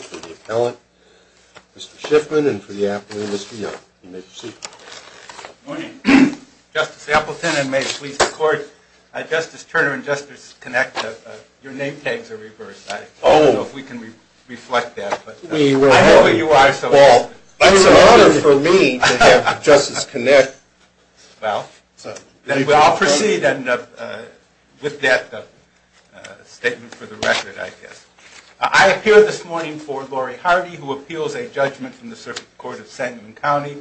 for the Appellant, Mr. Shiffman, and for the Appellant, Mr. Young. You may proceed. Good morning. Justice Appleton, and may it please the Court, Justice Turner and Justice Connick, your name tags are reversed. I don't know if we can reflect that. We will. I know who you are. Well, it's an honor for me to have Justice Connick. Well, then we'll all proceed with that statement for the record, I guess. I appear this morning for Lori Hardy, who appeals a judgment from the Circuit Court of Sangamon County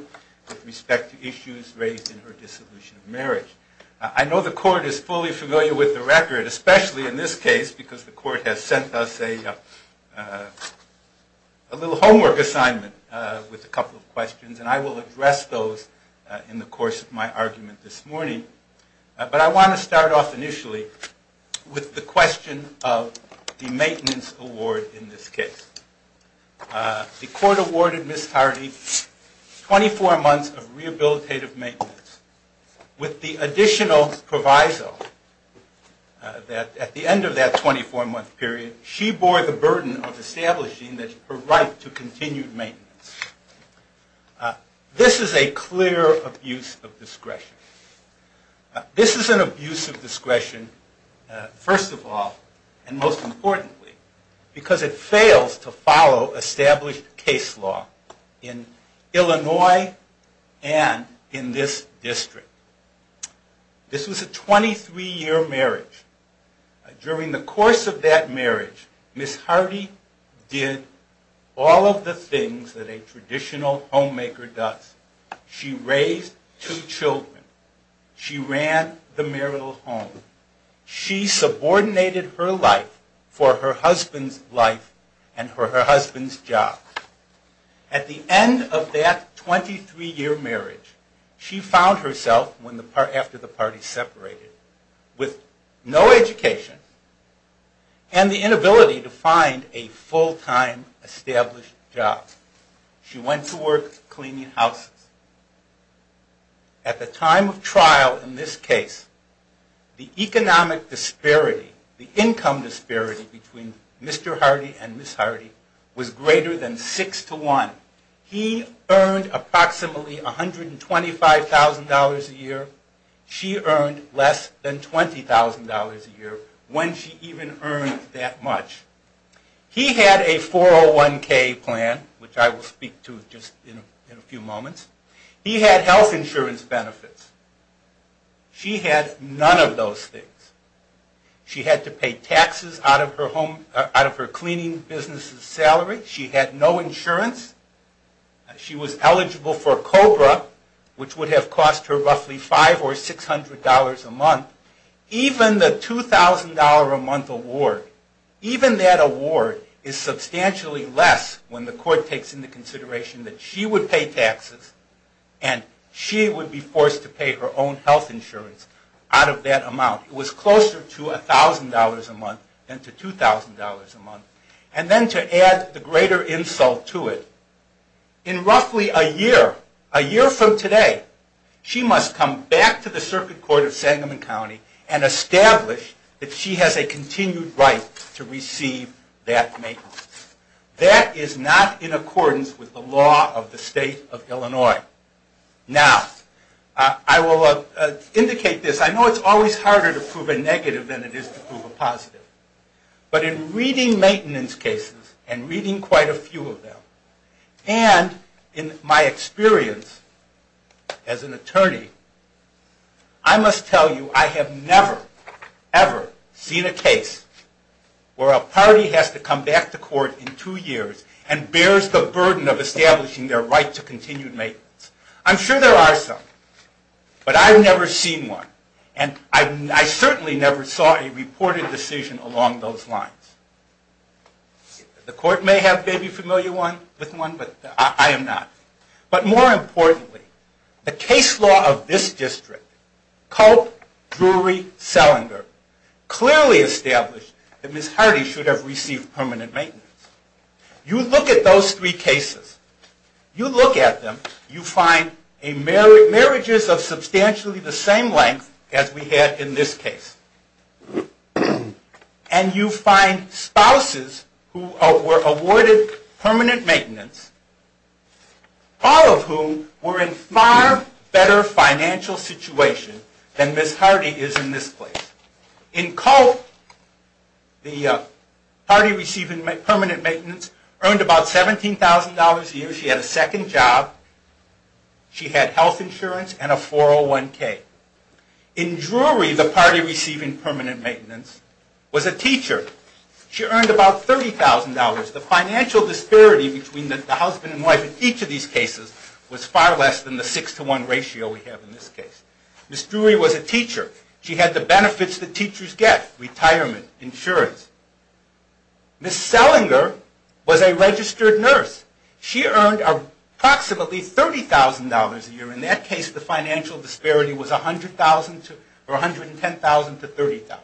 with respect to issues raised in her dissolution of marriage. I know the Court is fully familiar with the record, especially in this case, because the Court has sent us a little homework assignment with a couple of questions, and I will address those in the course of my argument this morning. But I want to start off initially with the question of the maintenance award in this case. The Court awarded Ms. Hardy 24 months of rehabilitative maintenance with the additional proviso that at the end of that 24 month period, she bore the burden of establishing her right to continued maintenance. This is a clear abuse of discretion. This is an abuse of discretion, first of all, and most importantly, because it fails to follow established case law in Illinois and in this district. This was a 23 year marriage. During the course of that marriage, Ms. Hardy did all of the things that a traditional homemaker does. She raised two children. She ran the marital home. She subordinated her life for her husband's life and her husband's job. At the end of that 23 year marriage, she found herself, after the party separated, with no education and the inability to find a full-time established job. She went to work cleaning houses. At the time of trial in this case, the economic disparity, the income disparity between Mr. Hardy and Ms. Hardy was greater than 6 to 1. He earned approximately $125,000 a year. She earned less than $20,000 a year when she even earned that much. He had a 401k plan, which I will speak to just in a few moments. He had health insurance benefits. She had none of those things. She had to pay taxes out of her cleaning business's salary. She had no insurance. She was eligible for COBRA, which would have cost her roughly $500 or $600 a month. Even the $2,000 a month award, even that award is substantially less when the court takes into consideration that she would pay taxes and she would be forced to pay her own health insurance out of that amount. It was closer to $1,000 a month than to $2,000 a month. And then to add the greater insult to it, in roughly a year, a year from today, she must come back to the Circuit Court of Sangamon County and establish that she has a continued right to receive that maintenance. That is not in accordance with the law of the state of Illinois. Now, I will indicate this. I know it's always harder to prove a negative than it is to prove a positive. But in reading maintenance cases, and reading quite a few of them, and in my experience as an attorney, I must tell you I have never, ever seen a case where a party has to come back to court in two years and bears the burden of establishing their right to continued maintenance. I'm sure there are some, but I've never seen one. And I certainly never saw a reported decision along those lines. The court may be familiar with one, but I am not. But more importantly, the case law of this district, Culp, Drury, Selinger, clearly established that Ms. Hardy should have received permanent maintenance. You look at those three cases, you look at them, you find marriages of substantially the same length as we had in this case. And you find spouses who were awarded permanent maintenance, all of whom were in far better financial situation than Ms. Hardy is in this case. In Culp, the party receiving permanent maintenance earned about $17,000 a year. She had a second job. She had health insurance and a 401K. In Drury, the party receiving permanent maintenance was a teacher. She earned about $30,000. The financial disparity between the husband and wife in each of these cases was far less than the 6 to 1 ratio we have in this case. Ms. Drury was a teacher. She had the benefits that teachers get, retirement, insurance. Ms. Selinger was a registered nurse. She earned approximately $30,000 a year. In that case, the financial disparity was $110,000 to $30,000.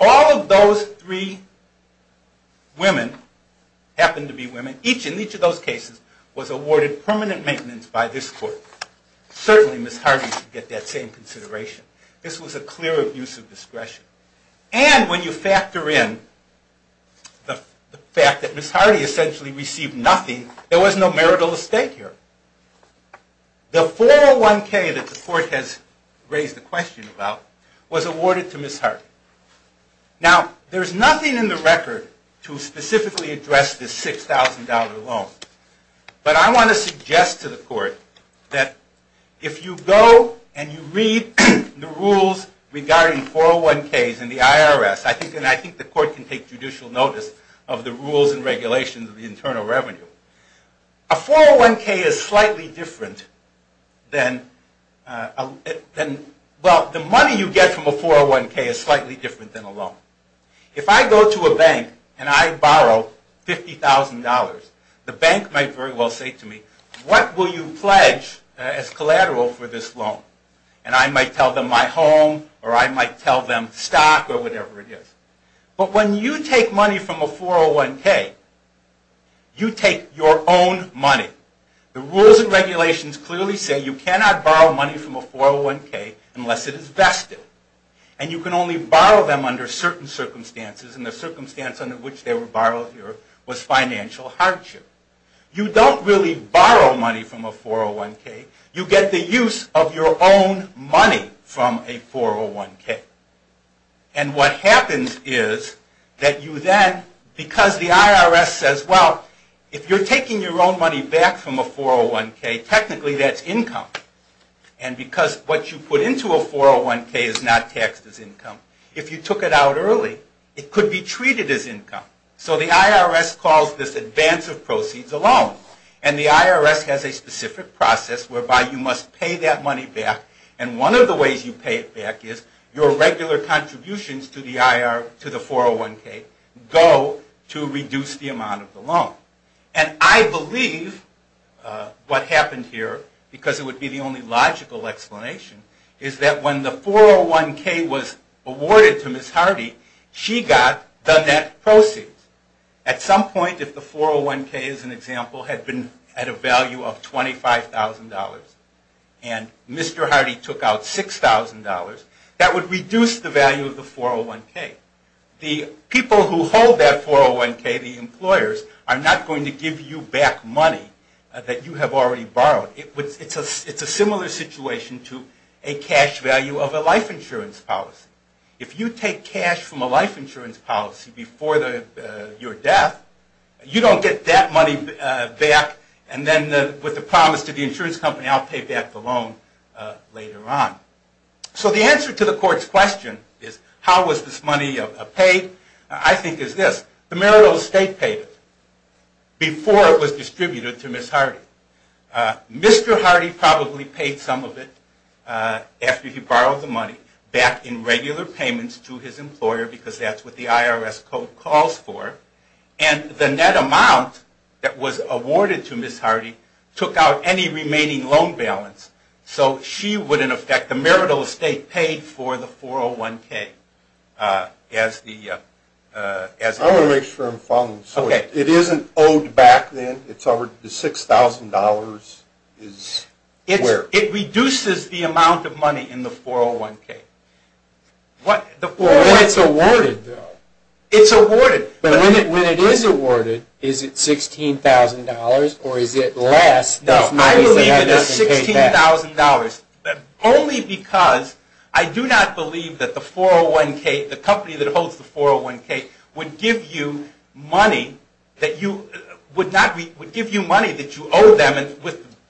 All of those three women happened to be women. Each and each of those cases was awarded permanent maintenance by this court. Certainly, Ms. Hardy should get that same consideration. This was a clear abuse of discretion. And when you factor in the fact that Ms. Hardy essentially received nothing, there was no marital estate here. The 401K that the court has raised the question about was awarded to Ms. Hardy. Now, there's nothing in the record to specifically address this $6,000 loan. But I want to suggest to the court that if you go and you read the rules regarding 401Ks in the IRS, and I think the court can take judicial notice of the rules and regulations of the Internal Revenue, a 401K is slightly different than a loan. If I go to a bank and I borrow $50,000, the bank might very well say to me, what will you pledge as collateral for this loan? And I might tell them my home or I might tell them stock or whatever it is. But when you take money from a 401K, you take your own money. The rules and regulations clearly say you cannot borrow money from a 401K unless it is vested. And you can only borrow them under certain circumstances. And the circumstance under which they were borrowed here was financial hardship. You don't really borrow money from a 401K. You get the use of your own money from a 401K. And what happens is that you then, because the IRS says, well, if you're taking your own money back from a 401K, technically that's income. And because what you put into a 401K is not taxed as income, if you took it out early, it could be treated as income. So the IRS calls this advance of proceeds a loan. And the IRS has a specific process whereby you must pay that money back. And one of the ways you pay it back is your regular contributions to the 401K go to reduce the amount of the loan. And I believe what happened here, because it would be the only logical explanation, is that when the 401K was awarded to Ms. Hardy, she got the net proceeds. At some point, if the 401K, as an example, had been at a value of $25,000 and Mr. Hardy took out $6,000, that would reduce the value of the 401K. The people who hold that 401K, the employers, are not going to give you back money that you have already borrowed. It's a similar situation to a cash value of a life insurance policy. If you take cash from a life insurance policy before your death, you don't get that money back. And then with the promise to the insurance company, I'll pay back the loan later on. So the answer to the court's question is, how was this money paid? I think it's this. The marital estate paid it before it was distributed to Ms. Hardy. Mr. Hardy probably paid some of it after he borrowed the money back in regular payments to his employer because that's what the IRS code calls for. And the net amount that was awarded to Ms. Hardy took out any remaining loan balance. So she wouldn't affect the marital estate paid for the 401K. I want to make sure I'm following. So it isn't owed back then? The $6,000 is where? It reduces the amount of money in the 401K. It's awarded though. It's awarded. But when it is awarded, is it $16,000 or is it less? No, I believe it is $16,000 only because I do not believe that the company that holds the 401K would give you money that you owe them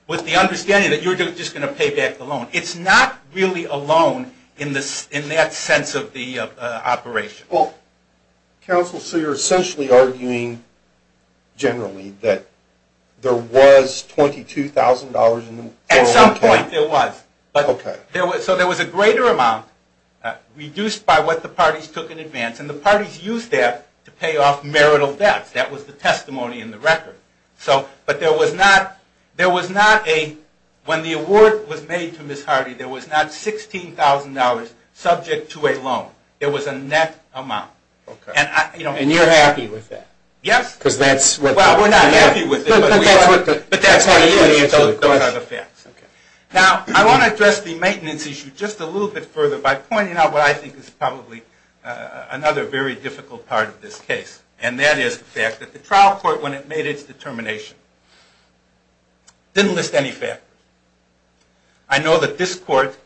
with the understanding that you're just going to pay back the loan. It's not really a loan in that sense of the operation. Counsel, so you're essentially arguing generally that there was $22,000 in the 401K? At some point there was. So there was a greater amount reduced by what the parties took in advance. And the parties used that to pay off marital debts. That was the testimony in the record. But when the award was made to Ms. Hardy, there was not $16,000 subject to a loan. There was a net amount. And you're happy with that? Yes. Well, we're not happy with it. But that's how you answer the question. Now, I want to address the maintenance issue just a little bit further by pointing out what I think is probably another very difficult part of this case. And that is the fact that the trial court, when it made its determination, didn't list any factors. I know that this court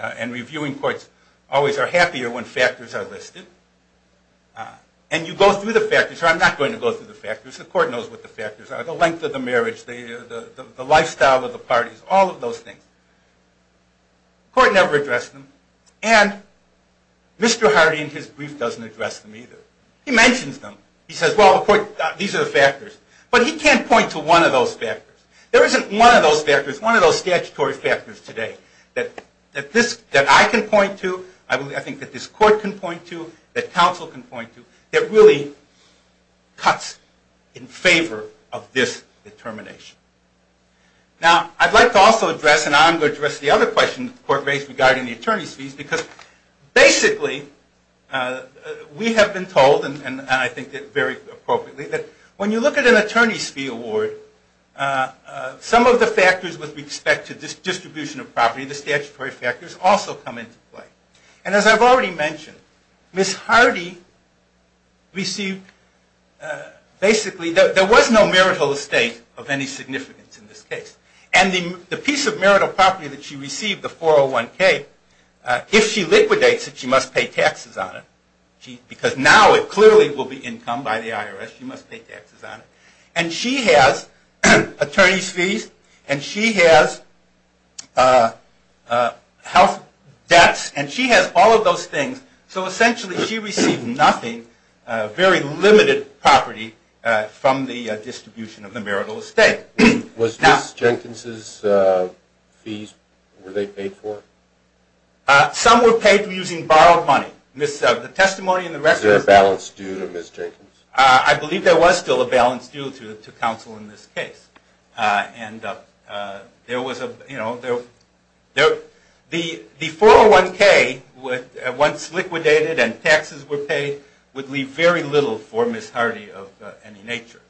and reviewing courts always are happier when factors are listed. And you go through the factors. I'm not going to go through the factors. The court knows what the factors are. The length of the marriage, the lifestyle of the parties, all of those things. The court never addressed them. And Mr. Hardy in his brief doesn't address them either. He mentions them. He says, well, these are the factors. But he can't point to one of those factors. There isn't one of those factors. One of those statutory factors today that I can point to, I think that this court can point to, that counsel can point to, that really cuts in favor of this determination. Now, I'd like to also address, and I'm going to address the other question the court raised regarding the attorney's fees, because basically we have been told, and I think very appropriately, that when you look at an attorney's fee award, some of the factors with respect to distribution of property, the statutory factors, also come into play. And as I've already mentioned, Ms. Hardy received basically, there was no marital estate of any significance in this case. And the piece of marital property that she received, the 401K, if she liquidates it, she must pay taxes on it. Because now it clearly will be income by the IRS. She must pay taxes on it. And she has attorney's fees, and she has health debts, and she has all of those things. So essentially she received nothing, very limited property, from the distribution of the marital estate. Was Ms. Jenkins' fees, were they paid for? Some were paid using borrowed money. Is there a balance due to Ms. Jenkins? I believe there was still a balance due to counsel in this case. The 401K, once liquidated and taxes were paid, would leave very little for Ms. Hardy of any nature.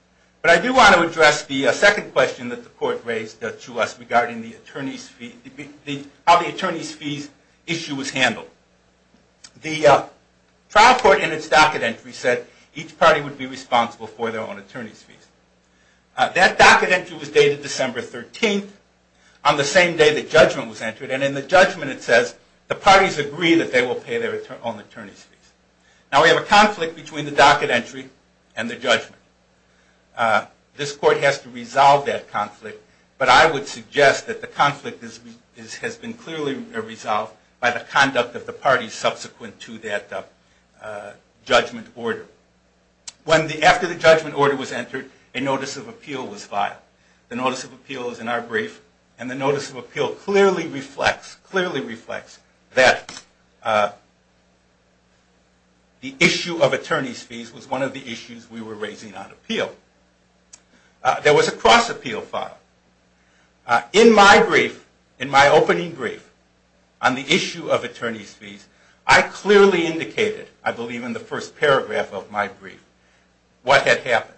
But I do want to address the second question that the court raised to us regarding how the attorney's fees issue was handled. The trial court in its docket entry said each party would be responsible for their own attorney's fees. That docket entry was dated December 13th, on the same day the judgment was entered. And in the judgment it says, the parties agree that they will pay their own attorney's fees. Now we have a conflict between the docket entry and the judgment. This court has to resolve that conflict. But I would suggest that the conflict has been clearly resolved by the conduct of the parties subsequent to that judgment order. After the judgment order was entered, a notice of appeal was filed. The notice of appeal is in our brief. And the notice of appeal clearly reflects that the issue of attorney's fees was one of the issues we were raising on appeal. There was a cross-appeal filed. In my brief, in my opening brief, on the issue of attorney's fees, I clearly indicated, I believe in the first paragraph of my brief, what had happened.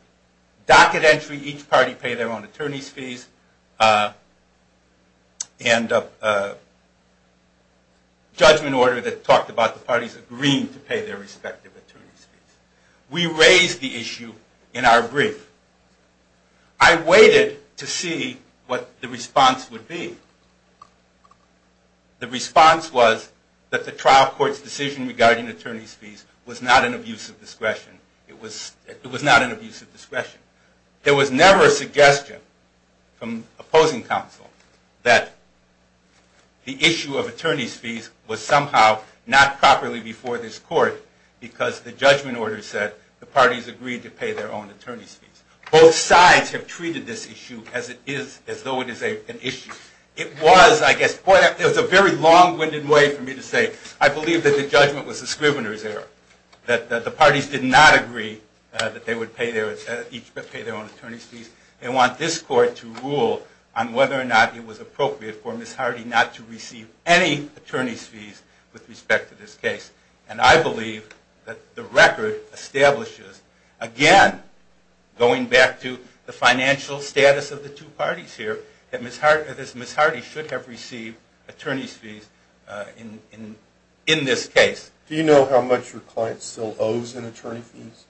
Docket entry, each party pay their own attorney's fees, and judgment order that talked about the parties agreeing to pay their respective attorney's fees. We raised the issue in our brief. I waited to see what the response would be. The response was that the trial court's decision regarding attorney's fees was not an abuse of discretion. There was never a suggestion from opposing counsel that the issue of attorney's fees was somehow not properly before this court because the judgment order said the parties agreed to pay their own attorney's fees. Both sides have treated this issue as it is, as though it is an issue. It was, I guess, a very long-winded way for me to say, I believe that the judgment was a scrivener's error, that the parties did not agree that they would each pay their own attorney's fees. They want this court to rule on whether or not it was appropriate for Ms. Hardy not to receive any attorney's fees with respect to this case. And I believe that the record establishes, again, going back to the financial status of the two parties here, that Ms. Hardy should have received attorney's fees in this case. Do you know how much your client still owes in attorney fees?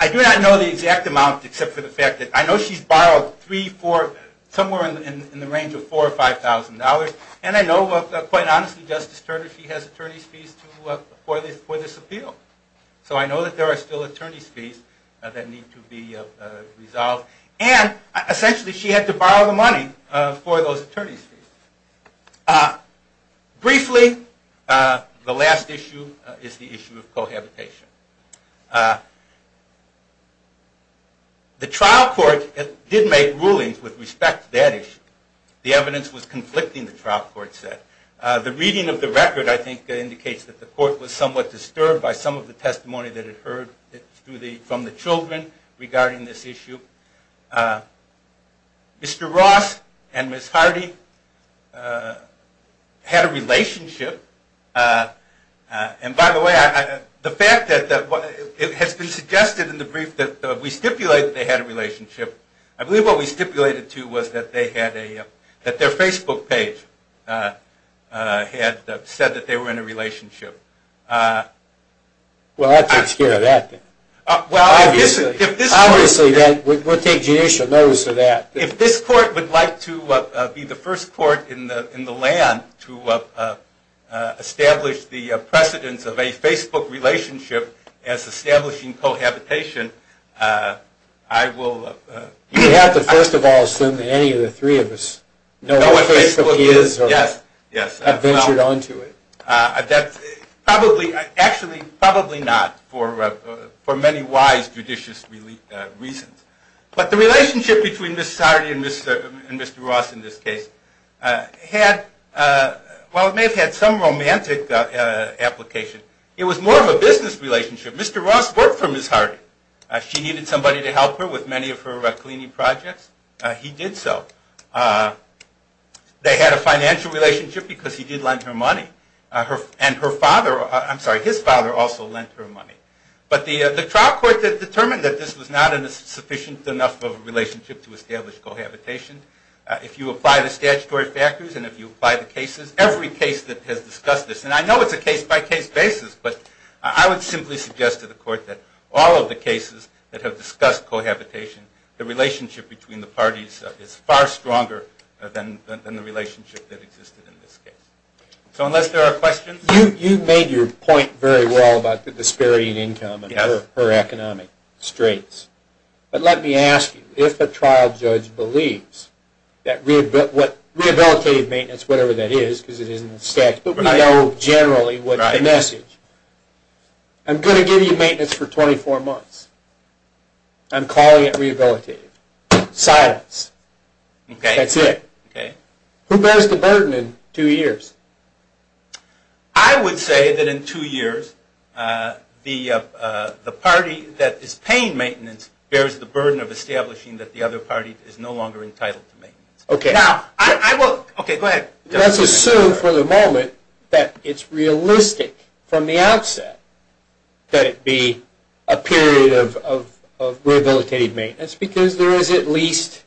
I do not know the exact amount except for the fact that I know she's borrowed three, four, somewhere in the range of $4,000 or $5,000. And I know, quite honestly, Justice Turner, she has attorney's fees for this appeal. So I know that there are still attorney's fees that need to be resolved. And essentially, she had to borrow the money for those attorney's fees. Briefly, the last issue is the issue of cohabitation. The trial court did make rulings with respect to that issue. The evidence was conflicting, the trial court said. The reading of the record, I think, indicates that the court was somewhat disturbed by some of the testimony that it heard from the children regarding this issue. Mr. Ross and Ms. Hardy had a relationship. And by the way, the fact that it has been suggested in the brief that we stipulate that they had a relationship, I believe what we stipulated, too, was that their Facebook page had said that they were in a relationship. Well, that takes care of that, then. Obviously, we'll take judicial notice of that. If this court would like to be the first court in the land to establish the precedence of a Facebook relationship as establishing cohabitation, I will... You'd have to first of all assume that any of the three of us know what Facebook is or have ventured onto it. Actually, probably not, for many wise judicious reasons. But the relationship between Ms. Hardy and Mr. Ross in this case may have had some romantic application. It was more of a business relationship. Mr. Ross worked for Ms. Hardy. She needed somebody to help her with many of her cleaning projects. He did so. They had a financial relationship because he did lend her money. And his father also lent her money. But the trial court determined that this was not sufficient enough of a relationship to establish cohabitation. If you apply the statutory factors and if you apply the cases, every case that has discussed this, and I know it's a case-by-case basis, but I would simply suggest to the court that all of the cases that have discussed cohabitation, the relationship between the parties is far stronger than the relationship that existed in this case. So unless there are questions... You made your point very well about the disparity in income and her economic straits. But let me ask you, if a trial judge believes that rehabilitative maintenance, whatever that is, because it is in the statute, but we know generally what the message is, I'm going to give you maintenance for 24 months. I'm calling it rehabilitative. Silence. That's it. Who bears the burden in two years? I would say that in two years, the party that is paying maintenance bears the burden of establishing that the other party is no longer entitled to maintenance. Now, I will... Okay, go ahead. Let's assume for the moment that it's realistic from the outset that it be a period of rehabilitative maintenance because there is at least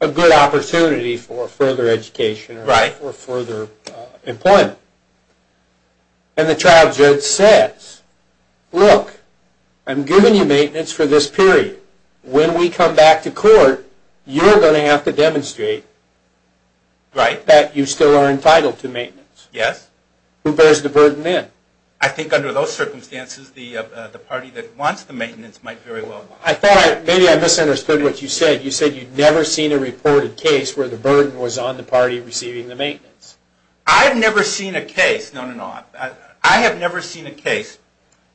a good opportunity for further education or further employment. And the trial judge says, look, I'm giving you maintenance for this period. When we come back to court, you're going to have to demonstrate that you still are entitled to maintenance. Who bears the burden then? I think under those circumstances, the party that wants the maintenance might very well... I thought maybe I misunderstood what you said. You said you'd never seen a reported case where the burden was on the party receiving the maintenance. I've never seen a case... No, no, no. I have never seen a case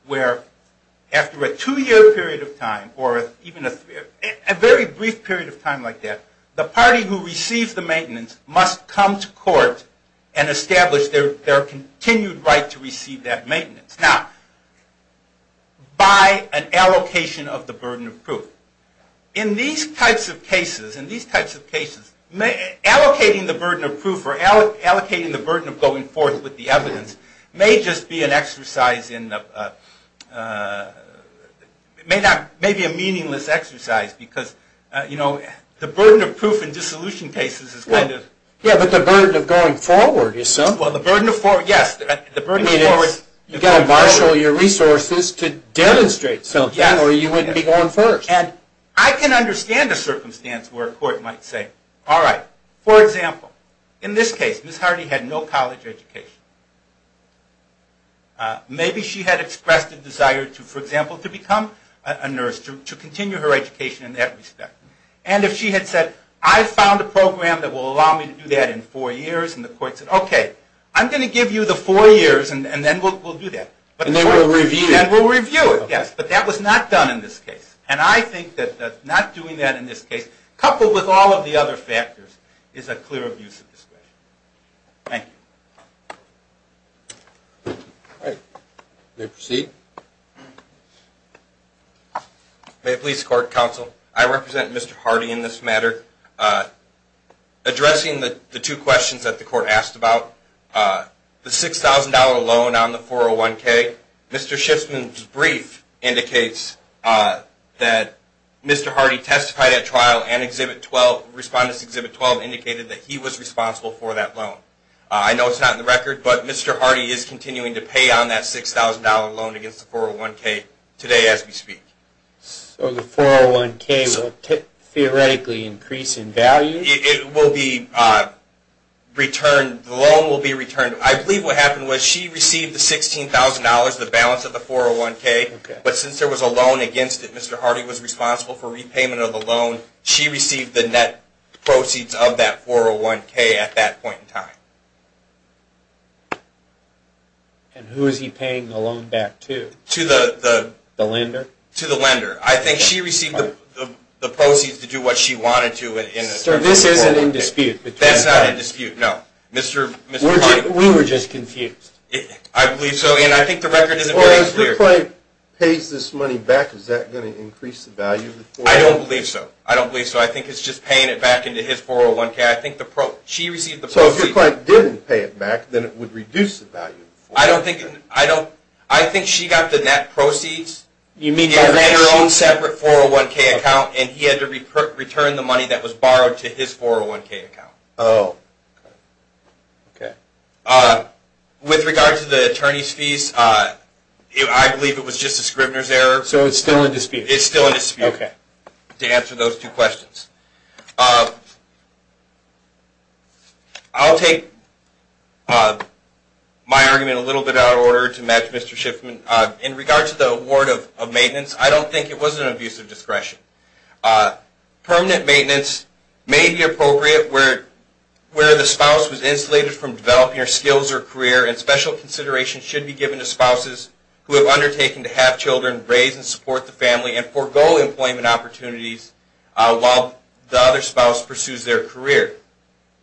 where after a two-year period of time or even a very brief period of time like that, the party who receives the maintenance must come to court and establish their continued right to receive that maintenance. Now, by an allocation of the burden of proof. In these types of cases, allocating the burden of proof or allocating the burden of going forth with the evidence may just be an exercise in... It may be a meaningless exercise because the burden of proof in dissolution cases is kind of... Yeah, but the burden of going forward, you said. Well, yes, the burden of going forward... You've got to marshal your resources to demonstrate something or you wouldn't be going forward. And I can understand a circumstance where a court might say, all right, for example, in this case, Ms. Hardy had no college education. Maybe she had expressed a desire to, for example, to become a nurse, to continue her education in that respect. And if she had said, I found a program that will allow me to do that in four years, and the court said, okay, I'm going to give you the four years and then we'll do that. And then we'll review it. And we'll review it, yes. But that was not done in this case. And I think that not doing that in this case, coupled with all of the other factors, is a clear abuse of discretion. Thank you. All right. You may proceed. May it please the Court, Counsel, I represent Mr. Hardy in this matter. Addressing the two questions that the Court asked about, the $6,000 loan on the 401K, Mr. Schiffman's brief indicates that Mr. Hardy testified at trial and Respondents Exhibit 12 indicated that he was responsible for that loan. I know it's not in the record, but Mr. Hardy is continuing to pay on that $6,000 loan against the 401K today as we speak. So the 401K will theoretically increase in value? It will be returned. The loan will be returned. I believe what happened was she received the $16,000, the balance of the 401K, but since there was a loan against it, Mr. Hardy was responsible for repayment of the loan. She received the net proceeds of that 401K at that point in time. And who is he paying the loan back to? To the lender. To the lender. I think she received the proceeds to do what she wanted to. Sir, this isn't in dispute. That's not in dispute, no. Mr. Hardy. We were just confused. I believe so, and I think the record isn't very clear. Well, if your client pays this money back, is that going to increase the value of the 401K? I don't believe so. I don't believe so. I think it's just paying it back into his 401K. So if your client didn't pay it back, then it would reduce the value of the 401K. I think she got the net proceeds in her own separate 401K account, and he had to return the money that was borrowed to his 401K account. With regard to the attorney's fees, I believe it was just a Scribner's error. So it's still in dispute. It's still in dispute, to answer those two questions. I'll take my argument a little bit out of order to match Mr. Shiffman. In regard to the award of maintenance, I don't think it was an abuse of discretion. Permanent maintenance may be appropriate where the spouse was insulated from developing her skills or career, and special consideration should be given to spouses who have undertaken to have children, raise and support the family, and forego employment opportunities while the spouse is still in employment. The other spouse pursues their career.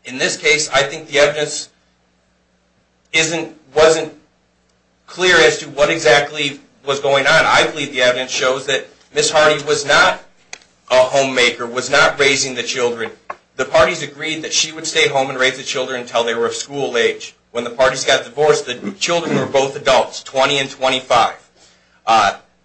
In this case, I think the evidence wasn't clear as to what exactly was going on. I believe the evidence shows that Ms. Hardy was not a homemaker, was not raising the children. The parties agreed that she would stay home and raise the children until they were of school age. When the parties got divorced, the children were both adults, 20 and 25.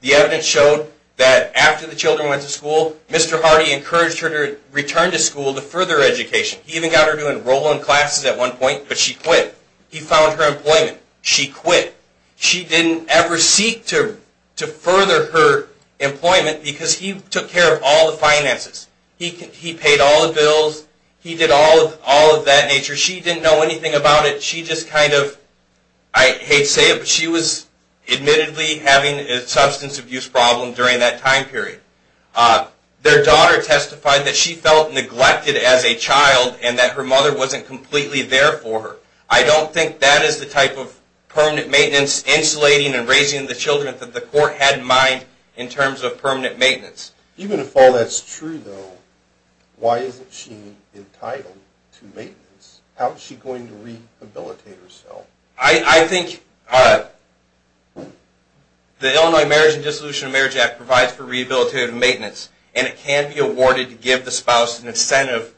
The evidence showed that after the children went to school, Mr. Hardy encouraged her to return to school to further education. He even got her to enroll in classes at one point, but she quit. He found her employment. She quit. She didn't ever seek to further her employment because he took care of all the finances. He paid all the bills. He did all of that nature. She didn't know anything about it. I hate to say it, but she was admittedly having a substance abuse problem during that time period. Their daughter testified that she felt neglected as a child and that her mother wasn't completely there for her. I don't think that is the type of permanent maintenance, insulating and raising the children that the court had in mind in terms of permanent maintenance. Even if all that's true, though, why isn't she entitled to maintenance? How is she going to rehabilitate herself? I think the Illinois Marriage and Dissolution of Marriage Act provides for rehabilitative maintenance, and it can be awarded to give the spouse an incentive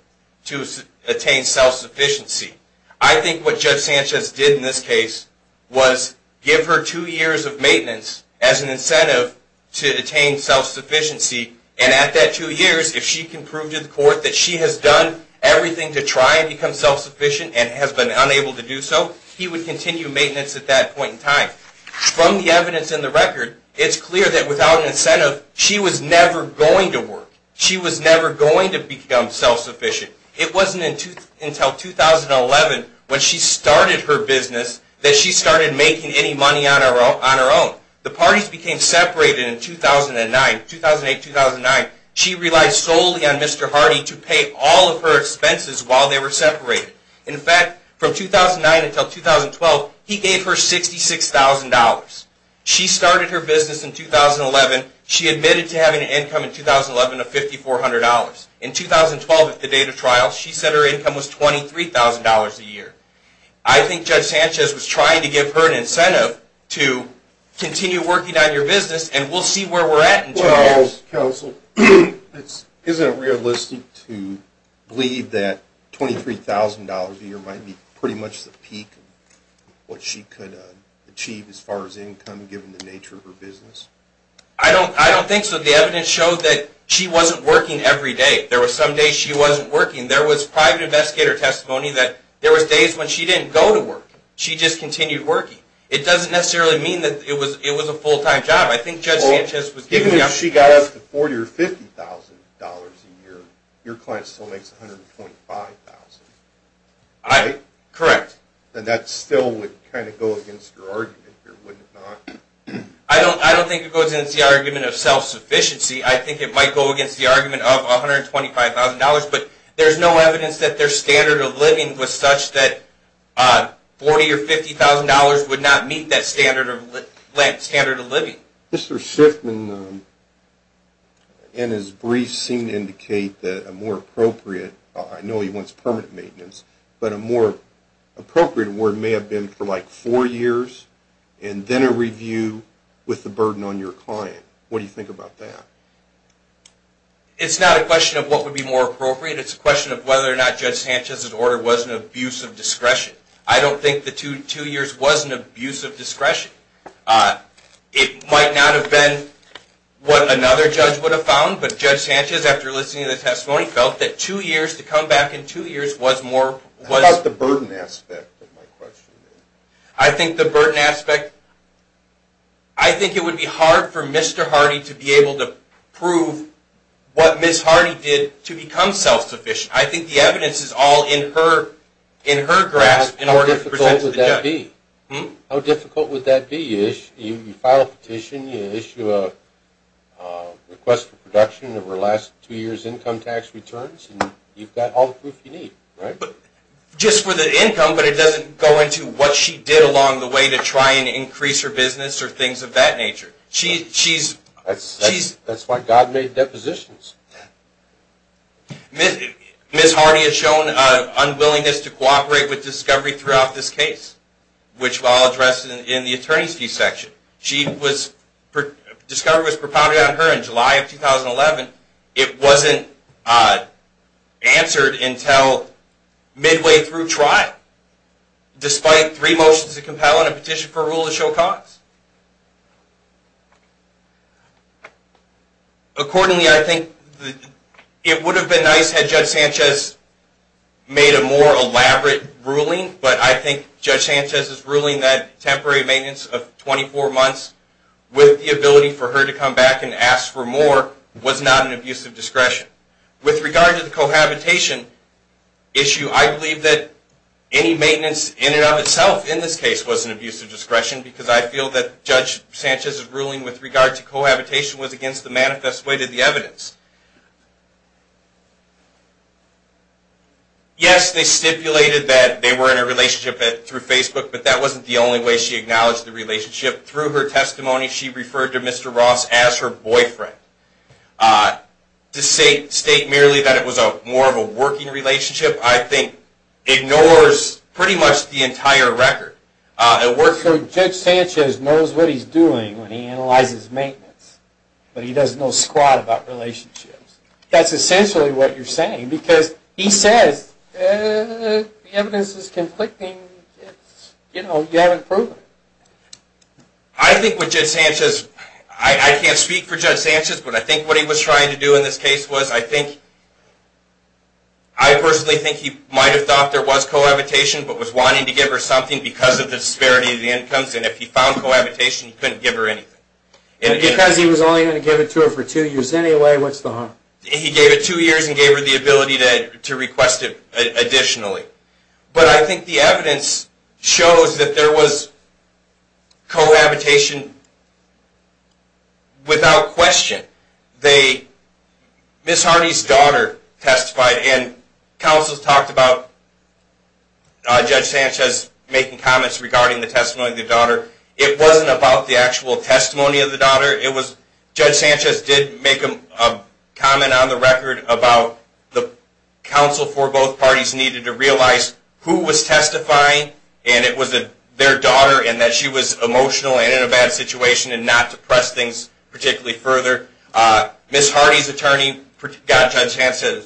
to attain self-sufficiency. I think what Judge Sanchez did in this case was give her two years of maintenance as an incentive to attain self-sufficiency, and at that two years, if she can prove to the court that she has done everything to try and become self-sufficient and has been unable to do so, he would continue maintenance at that point in time. From the evidence in the record, it's clear that without an incentive, she was never going to work. She was never going to become self-sufficient. It wasn't until 2011 when she started her business that she started making any money on her own. The parties became separated in 2008-2009. She relied solely on Mr. Hardy to pay all of her expenses while they were separated. In fact, from 2009 until 2012, he gave her $66,000. She started her business in 2011. She admitted to having an income in 2011 of $5,400. In 2012, at the date of trial, she said her income was $23,000 a year. I think Judge Sanchez was trying to give her an incentive to continue working on your business, and we'll see where we're at in two years. Counsel, isn't it realistic to believe that $23,000 a year might be pretty much the peak of what she could achieve as far as income given the nature of her business? I don't think so. The evidence showed that she wasn't working every day. There were some days she wasn't working. There was private investigator testimony that there were days when she didn't go to work. She just continued working. It doesn't necessarily mean that it was a full-time job. Given that she got up to $40,000 or $50,000 a year, your client still makes $125,000. Correct. That still would kind of go against your argument, wouldn't it not? I don't think it goes against the argument of self-sufficiency. I think it might go against the argument of $125,000, but there's no evidence that their standard of living was such that $40,000 or $50,000 would not meet that standard of living. Mr. Shiffman and his briefs seem to indicate that a more appropriate – I know he wants permanent maintenance – but a more appropriate award may have been for like four years and then a review with the burden on your client. What do you think about that? It's not a question of what would be more appropriate. It's a question of whether or not Judge Sanchez's order was an abuse of discretion. I don't think the two years was an abuse of discretion. It might not have been what another judge would have found, but Judge Sanchez, after listening to the testimony, felt that two years, to come back in two years, was more – How about the burden aspect of my question? I think the burden aspect – I think it would be hard for Mr. Hardy to be able to prove what Ms. Hardy did to become self-sufficient. I think the evidence is all in her grasp. How difficult would that be? How difficult would that be? You file a petition, you issue a request for production of her last two years' income tax returns, and you've got all the proof you need, right? Just for the income, but it doesn't go into what she did along the way to try and increase her business or things of that nature. That's why God made depositions. Ms. Hardy has shown unwillingness to cooperate with Discovery throughout this case, which I'll address in the attorney's fee section. Discovery was propounded on her in July of 2011. It wasn't answered until midway through trial, despite three motions to compel it and a petition for a rule to show cause. Accordingly, I think it would have been nice had Judge Sanchez made a more elaborate ruling, but I think Judge Sanchez's ruling that temporary maintenance of 24 months with the ability for her to come back and ask for more was not an abuse of discretion. With regard to the cohabitation issue, I believe that any maintenance in and of itself in this case was an abuse of discretion because I feel that Judge Sanchez's ruling with regard to cohabitation was against the manifest way to the evidence. Yes, they stipulated that they were in a relationship through Facebook, but that wasn't the only way she acknowledged the relationship. Through her testimony, she referred to Mr. Ross as her boyfriend. To state merely that it was more of a working relationship, I think ignores pretty much the entire record. So Judge Sanchez knows what he's doing when he analyzes maintenance, but he does no squat about relationships. That's essentially what you're saying because he says, The evidence is conflicting. You haven't proven it. I can't speak for Judge Sanchez, but I think what he was trying to do in this case was, I personally think he might have thought there was cohabitation, but was wanting to give her something because of the disparity in the incomes, and if he found cohabitation, he couldn't give her anything. Because he was only going to give it to her for two years anyway, what's the harm? He gave it two years and gave her the ability to request it additionally. But I think the evidence shows that there was cohabitation without question. Ms. Harney's daughter testified, and counsels talked about Judge Sanchez making comments regarding the testimony of the daughter. It wasn't about the actual testimony of the daughter. Judge Sanchez did make a comment on the record about the counsel for both parties needed to realize who was testifying, and it was their daughter, and that she was emotional and in a bad situation, and not to press things particularly further. Ms. Harney's attorney got Judge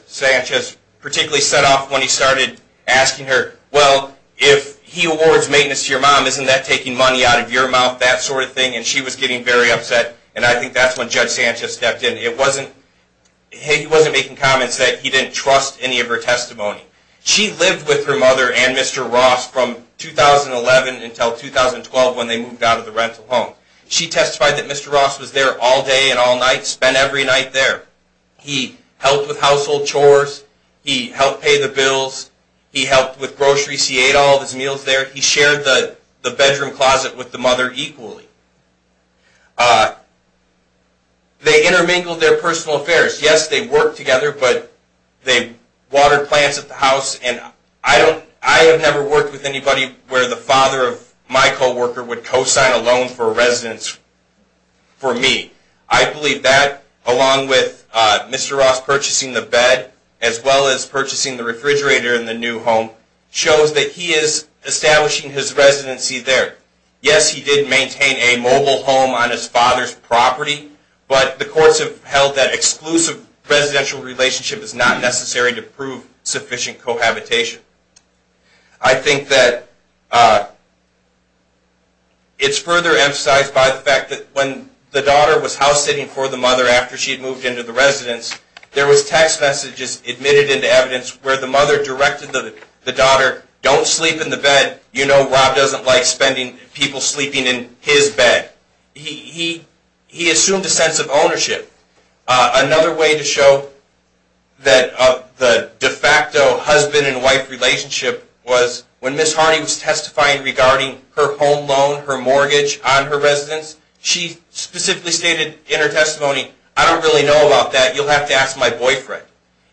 Sanchez particularly set off when he started asking her, Well, if he awards maintenance to your mom, isn't that taking money out of your mouth? That sort of thing. And she was getting very upset, and I think that's when Judge Sanchez stepped in. He wasn't making comments that he didn't trust any of her testimony. She lived with her mother and Mr. Ross from 2011 until 2012 when they moved out of the rental home. She testified that Mr. Ross was there all day and all night, spent every night there. He helped with household chores. He helped pay the bills. He helped with groceries. He ate all of his meals there. He shared the bedroom closet with the mother equally. They intermingled their personal affairs. Yes, they worked together, but they watered plants at the house, and I have never worked with anybody where the father of my co-worker would co-sign a loan for a residence for me. I believe that, along with Mr. Ross purchasing the bed, as well as purchasing the refrigerator in the new home, shows that he is establishing his residency there. Yes, he did maintain a mobile home on his father's property, but the courts have held that exclusive residential relationship is not necessary to prove sufficient cohabitation. I think that it's further emphasized by the fact that when the daughter was house-sitting for the mother after she had moved into the residence, there was text messages admitted into evidence where the mother directed the daughter, don't sleep in the bed. You know Rob doesn't like spending people sleeping in his bed. He assumed a sense of ownership. Another way to show that the de facto husband-and-wife relationship was when Ms. Harney was testifying regarding her home loan, her mortgage on her residence, she specifically stated in her testimony, I don't really know about that. You'll have to ask my boyfriend.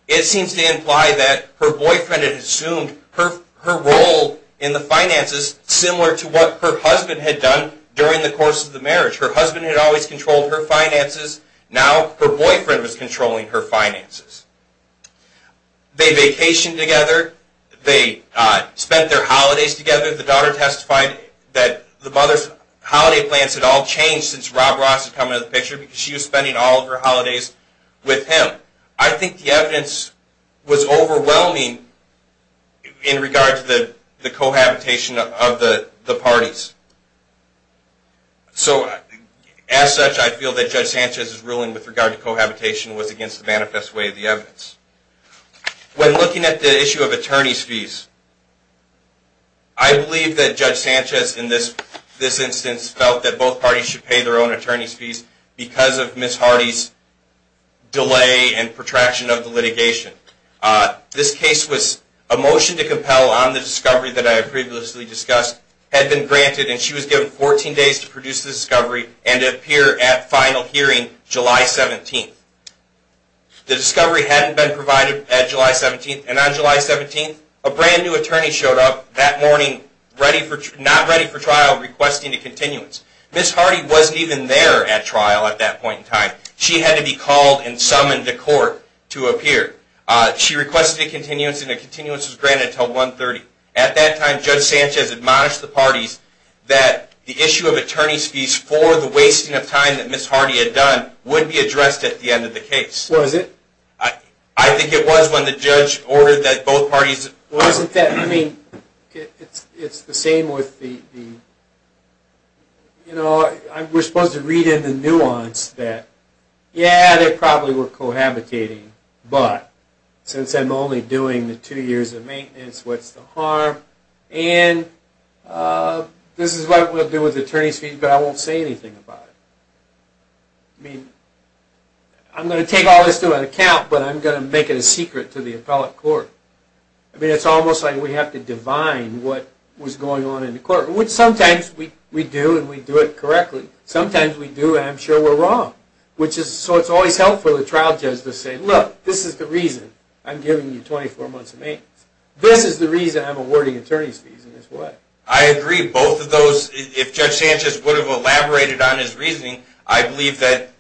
It seems to imply that her boyfriend had assumed her role in the finances similar to what her husband had done during the course of the marriage. Her husband had always controlled her finances. Now her boyfriend was controlling her finances. They vacationed together. They spent their holidays together. The daughter testified that the mother's holiday plans had all changed since Rob Ross had come into the picture because she was spending all of her holidays with him. I think the evidence was overwhelming in regard to the cohabitation of the parties. As such, I feel that Judge Sanchez's ruling with regard to cohabitation was against the manifest way of the evidence. When looking at the issue of attorney's fees, I believe that Judge Sanchez in this instance felt that both parties should pay their own attorney's fees because of Ms. Harney's delay and protraction of the litigation. This case was a motion to compel on the discovery that I previously discussed had been granted and she was given 14 days to produce the discovery and to appear at final hearing July 17th. The discovery hadn't been provided at July 17th and on July 17th, a brand new attorney showed up that morning not ready for trial requesting a continuance. Ms. Harney wasn't even there at trial at that point in time. She had to be called and summoned to court to appear. She requested a continuance and a continuance was granted until 1.30. At that time, Judge Sanchez admonished the parties that the issue of attorney's fees for the wasting of time that Ms. Harney had done would be addressed at the end of the case. Was it? I think it was when the judge ordered that both parties... Well, isn't that... I mean, it's the same with the... You know, we're supposed to read in the nuance that yeah, they probably were cohabitating, but since I'm only doing the two years of maintenance, what's the harm? And this is what I'm going to do with attorney's fees, but I won't say anything about it. I mean, I'm going to take all this into account, but I'm going to make it a secret to the appellate court. I mean, it's almost like we have to divine what was going on in the court, which sometimes we do and we do it correctly. Sometimes we do and I'm sure we're wrong. So it's always helpful for the trial judge to say, look, this is the reason I'm giving you 24 months of maintenance. This is the reason I'm awarding attorney's fees in this way. I agree. Both of those, if Judge Sanchez would have elaborated on his reasoning, I believe that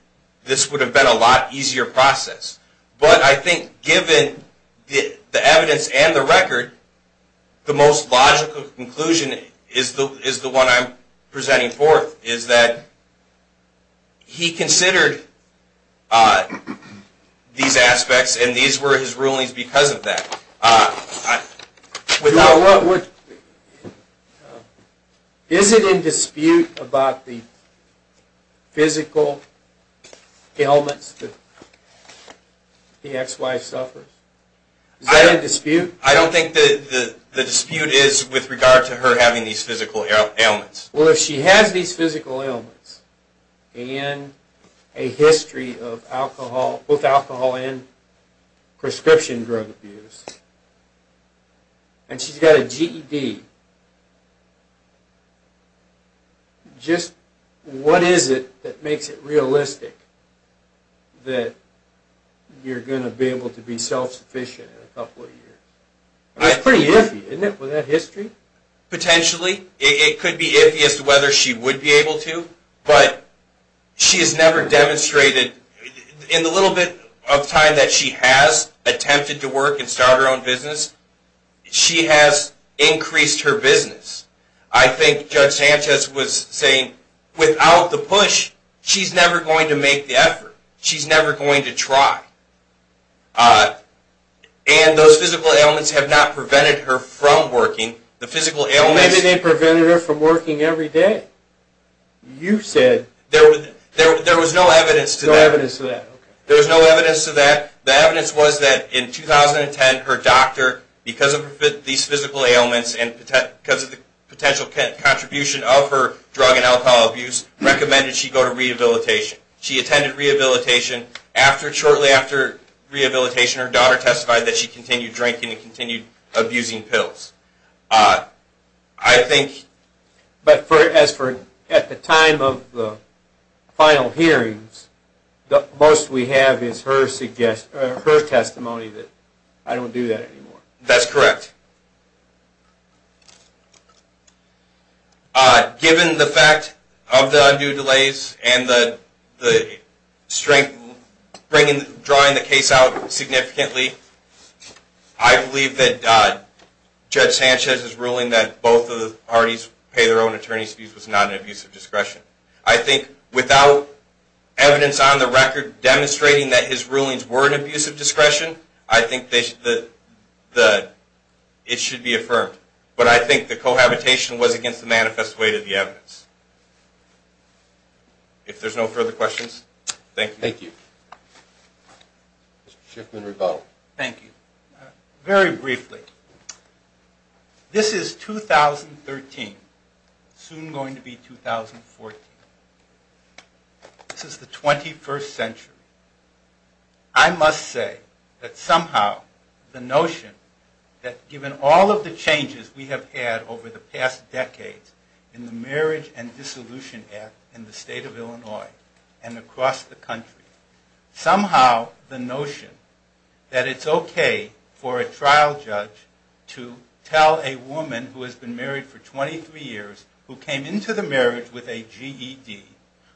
this would have been a lot easier process. But I think given the evidence and the record, the most logical conclusion is the one I'm presenting forth, is that he considered these aspects and these were his rulings because of that. Is it in dispute about the physical ailments that the ex-wife suffers? Is that in dispute? I don't think the dispute is with regard to her having these physical ailments. Well, if she has these physical ailments and a history of both alcohol and prescription drug abuse, and she's got a GED, just what is it that makes it realistic that you're going to be able to be self-sufficient in a couple of years? It's pretty iffy, isn't it, with that history? Potentially. It could be iffy as to whether she would be able to, but she has never demonstrated, in the little bit of time that she has attempted to work and start her own business, she has increased her business. I think Judge Sanchez was saying, without the push, she's never going to make the effort. She's never going to try. And those physical ailments have not prevented her from working. The physical ailments... Maybe they prevented her from working every day. You said... There was no evidence to that. No evidence to that. There was no evidence to that. The evidence was that in 2010, her doctor, because of these physical ailments and because of the potential contribution of her drug and alcohol abuse, recommended she go to rehabilitation. She attended rehabilitation. Shortly after rehabilitation, her daughter testified that she continued drinking and continued abusing pills. I think... But as for at the time of the final hearings, the most we have is her testimony that, I don't do that anymore. That's correct. Given the fact of the undue delays and the strength drawing the case out significantly, I believe that Judge Sanchez's ruling that both of the parties pay their own attorney's fees was not an abuse of discretion. I think without evidence on the record demonstrating that his rulings were an abuse of discretion, I think it should be affirmed. But I think the cohabitation was against the manifest weight of the evidence. If there's no further questions, thank you. Thank you. Mr. Shiffman, rebuttal. Thank you. Very briefly, this is 2013, soon going to be 2014. This is the 21st century. I must say that somehow the notion that given all of the changes we have had over the past decades in the Marriage and Dissolution Act in the state of Illinois and across the country, somehow the notion that it's okay for a trial judge to tell a woman who has been married for 23 years, who came into the marriage with a GED,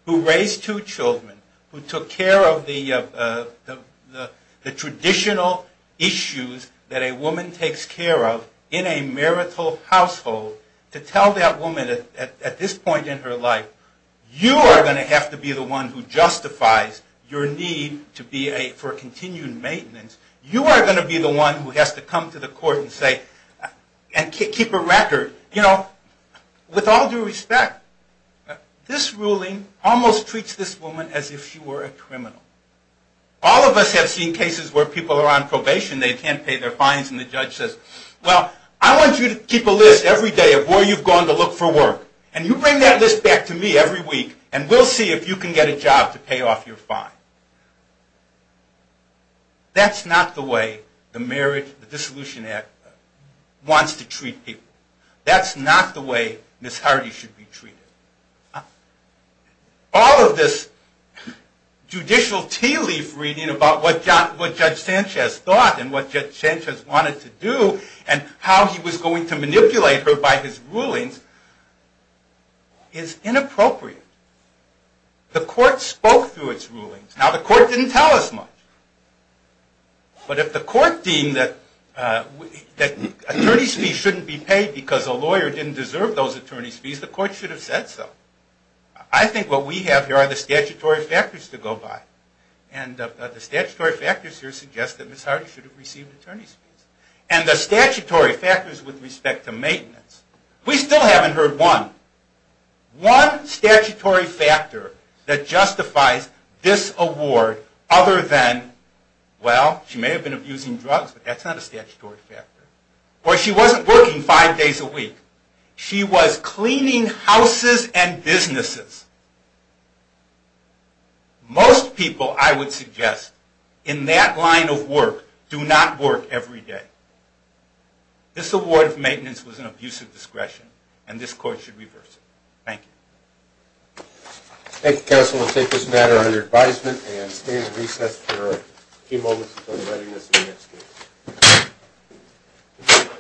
who raised two children, who took care of the traditional issues that a woman takes care of in a marital household, to tell that woman at this point in her life, you are going to have to be the one who justifies your need for continued maintenance. You are going to be the one who has to come to the court and keep a record. With all due respect, this ruling almost treats this woman as if she were a criminal. All of us have seen cases where people are on probation, they can't pay their fines, and the judge says, well, I want you to keep a list every day of where you've gone to look for work, and you bring that list back to me every week, and we'll see if you can get a job to pay off your fine. That's not the way the Marriage and Dissolution Act wants to treat people. That's not the way Miss Hardy should be treated. All of this judicial tea leaf reading about what Judge Sanchez thought, and what Judge Sanchez wanted to do, and how he was going to manipulate her by his rulings, is inappropriate. The court spoke through its rulings. Now, the court didn't tell us much. But if the court deemed that attorney's fees shouldn't be paid because a lawyer didn't deserve those attorney's fees, the court should have said so. I think what we have here are the statutory factors to go by. And the statutory factors here suggest that Miss Hardy should have received attorney's fees. And the statutory factors with respect to maintenance, we still haven't heard one. One statutory factor that justifies this award other than, well, she may have been abusing drugs, but that's not a statutory factor. Or she wasn't working five days a week. She was cleaning houses and businesses. Most people, I would suggest, in that line of work do not work every day. This award of maintenance was an abuse of discretion, and this court should reverse it. Thank you. Thank you, counsel. We'll take this matter under advisement and stay in recess for a few moments until the readiness of the next case.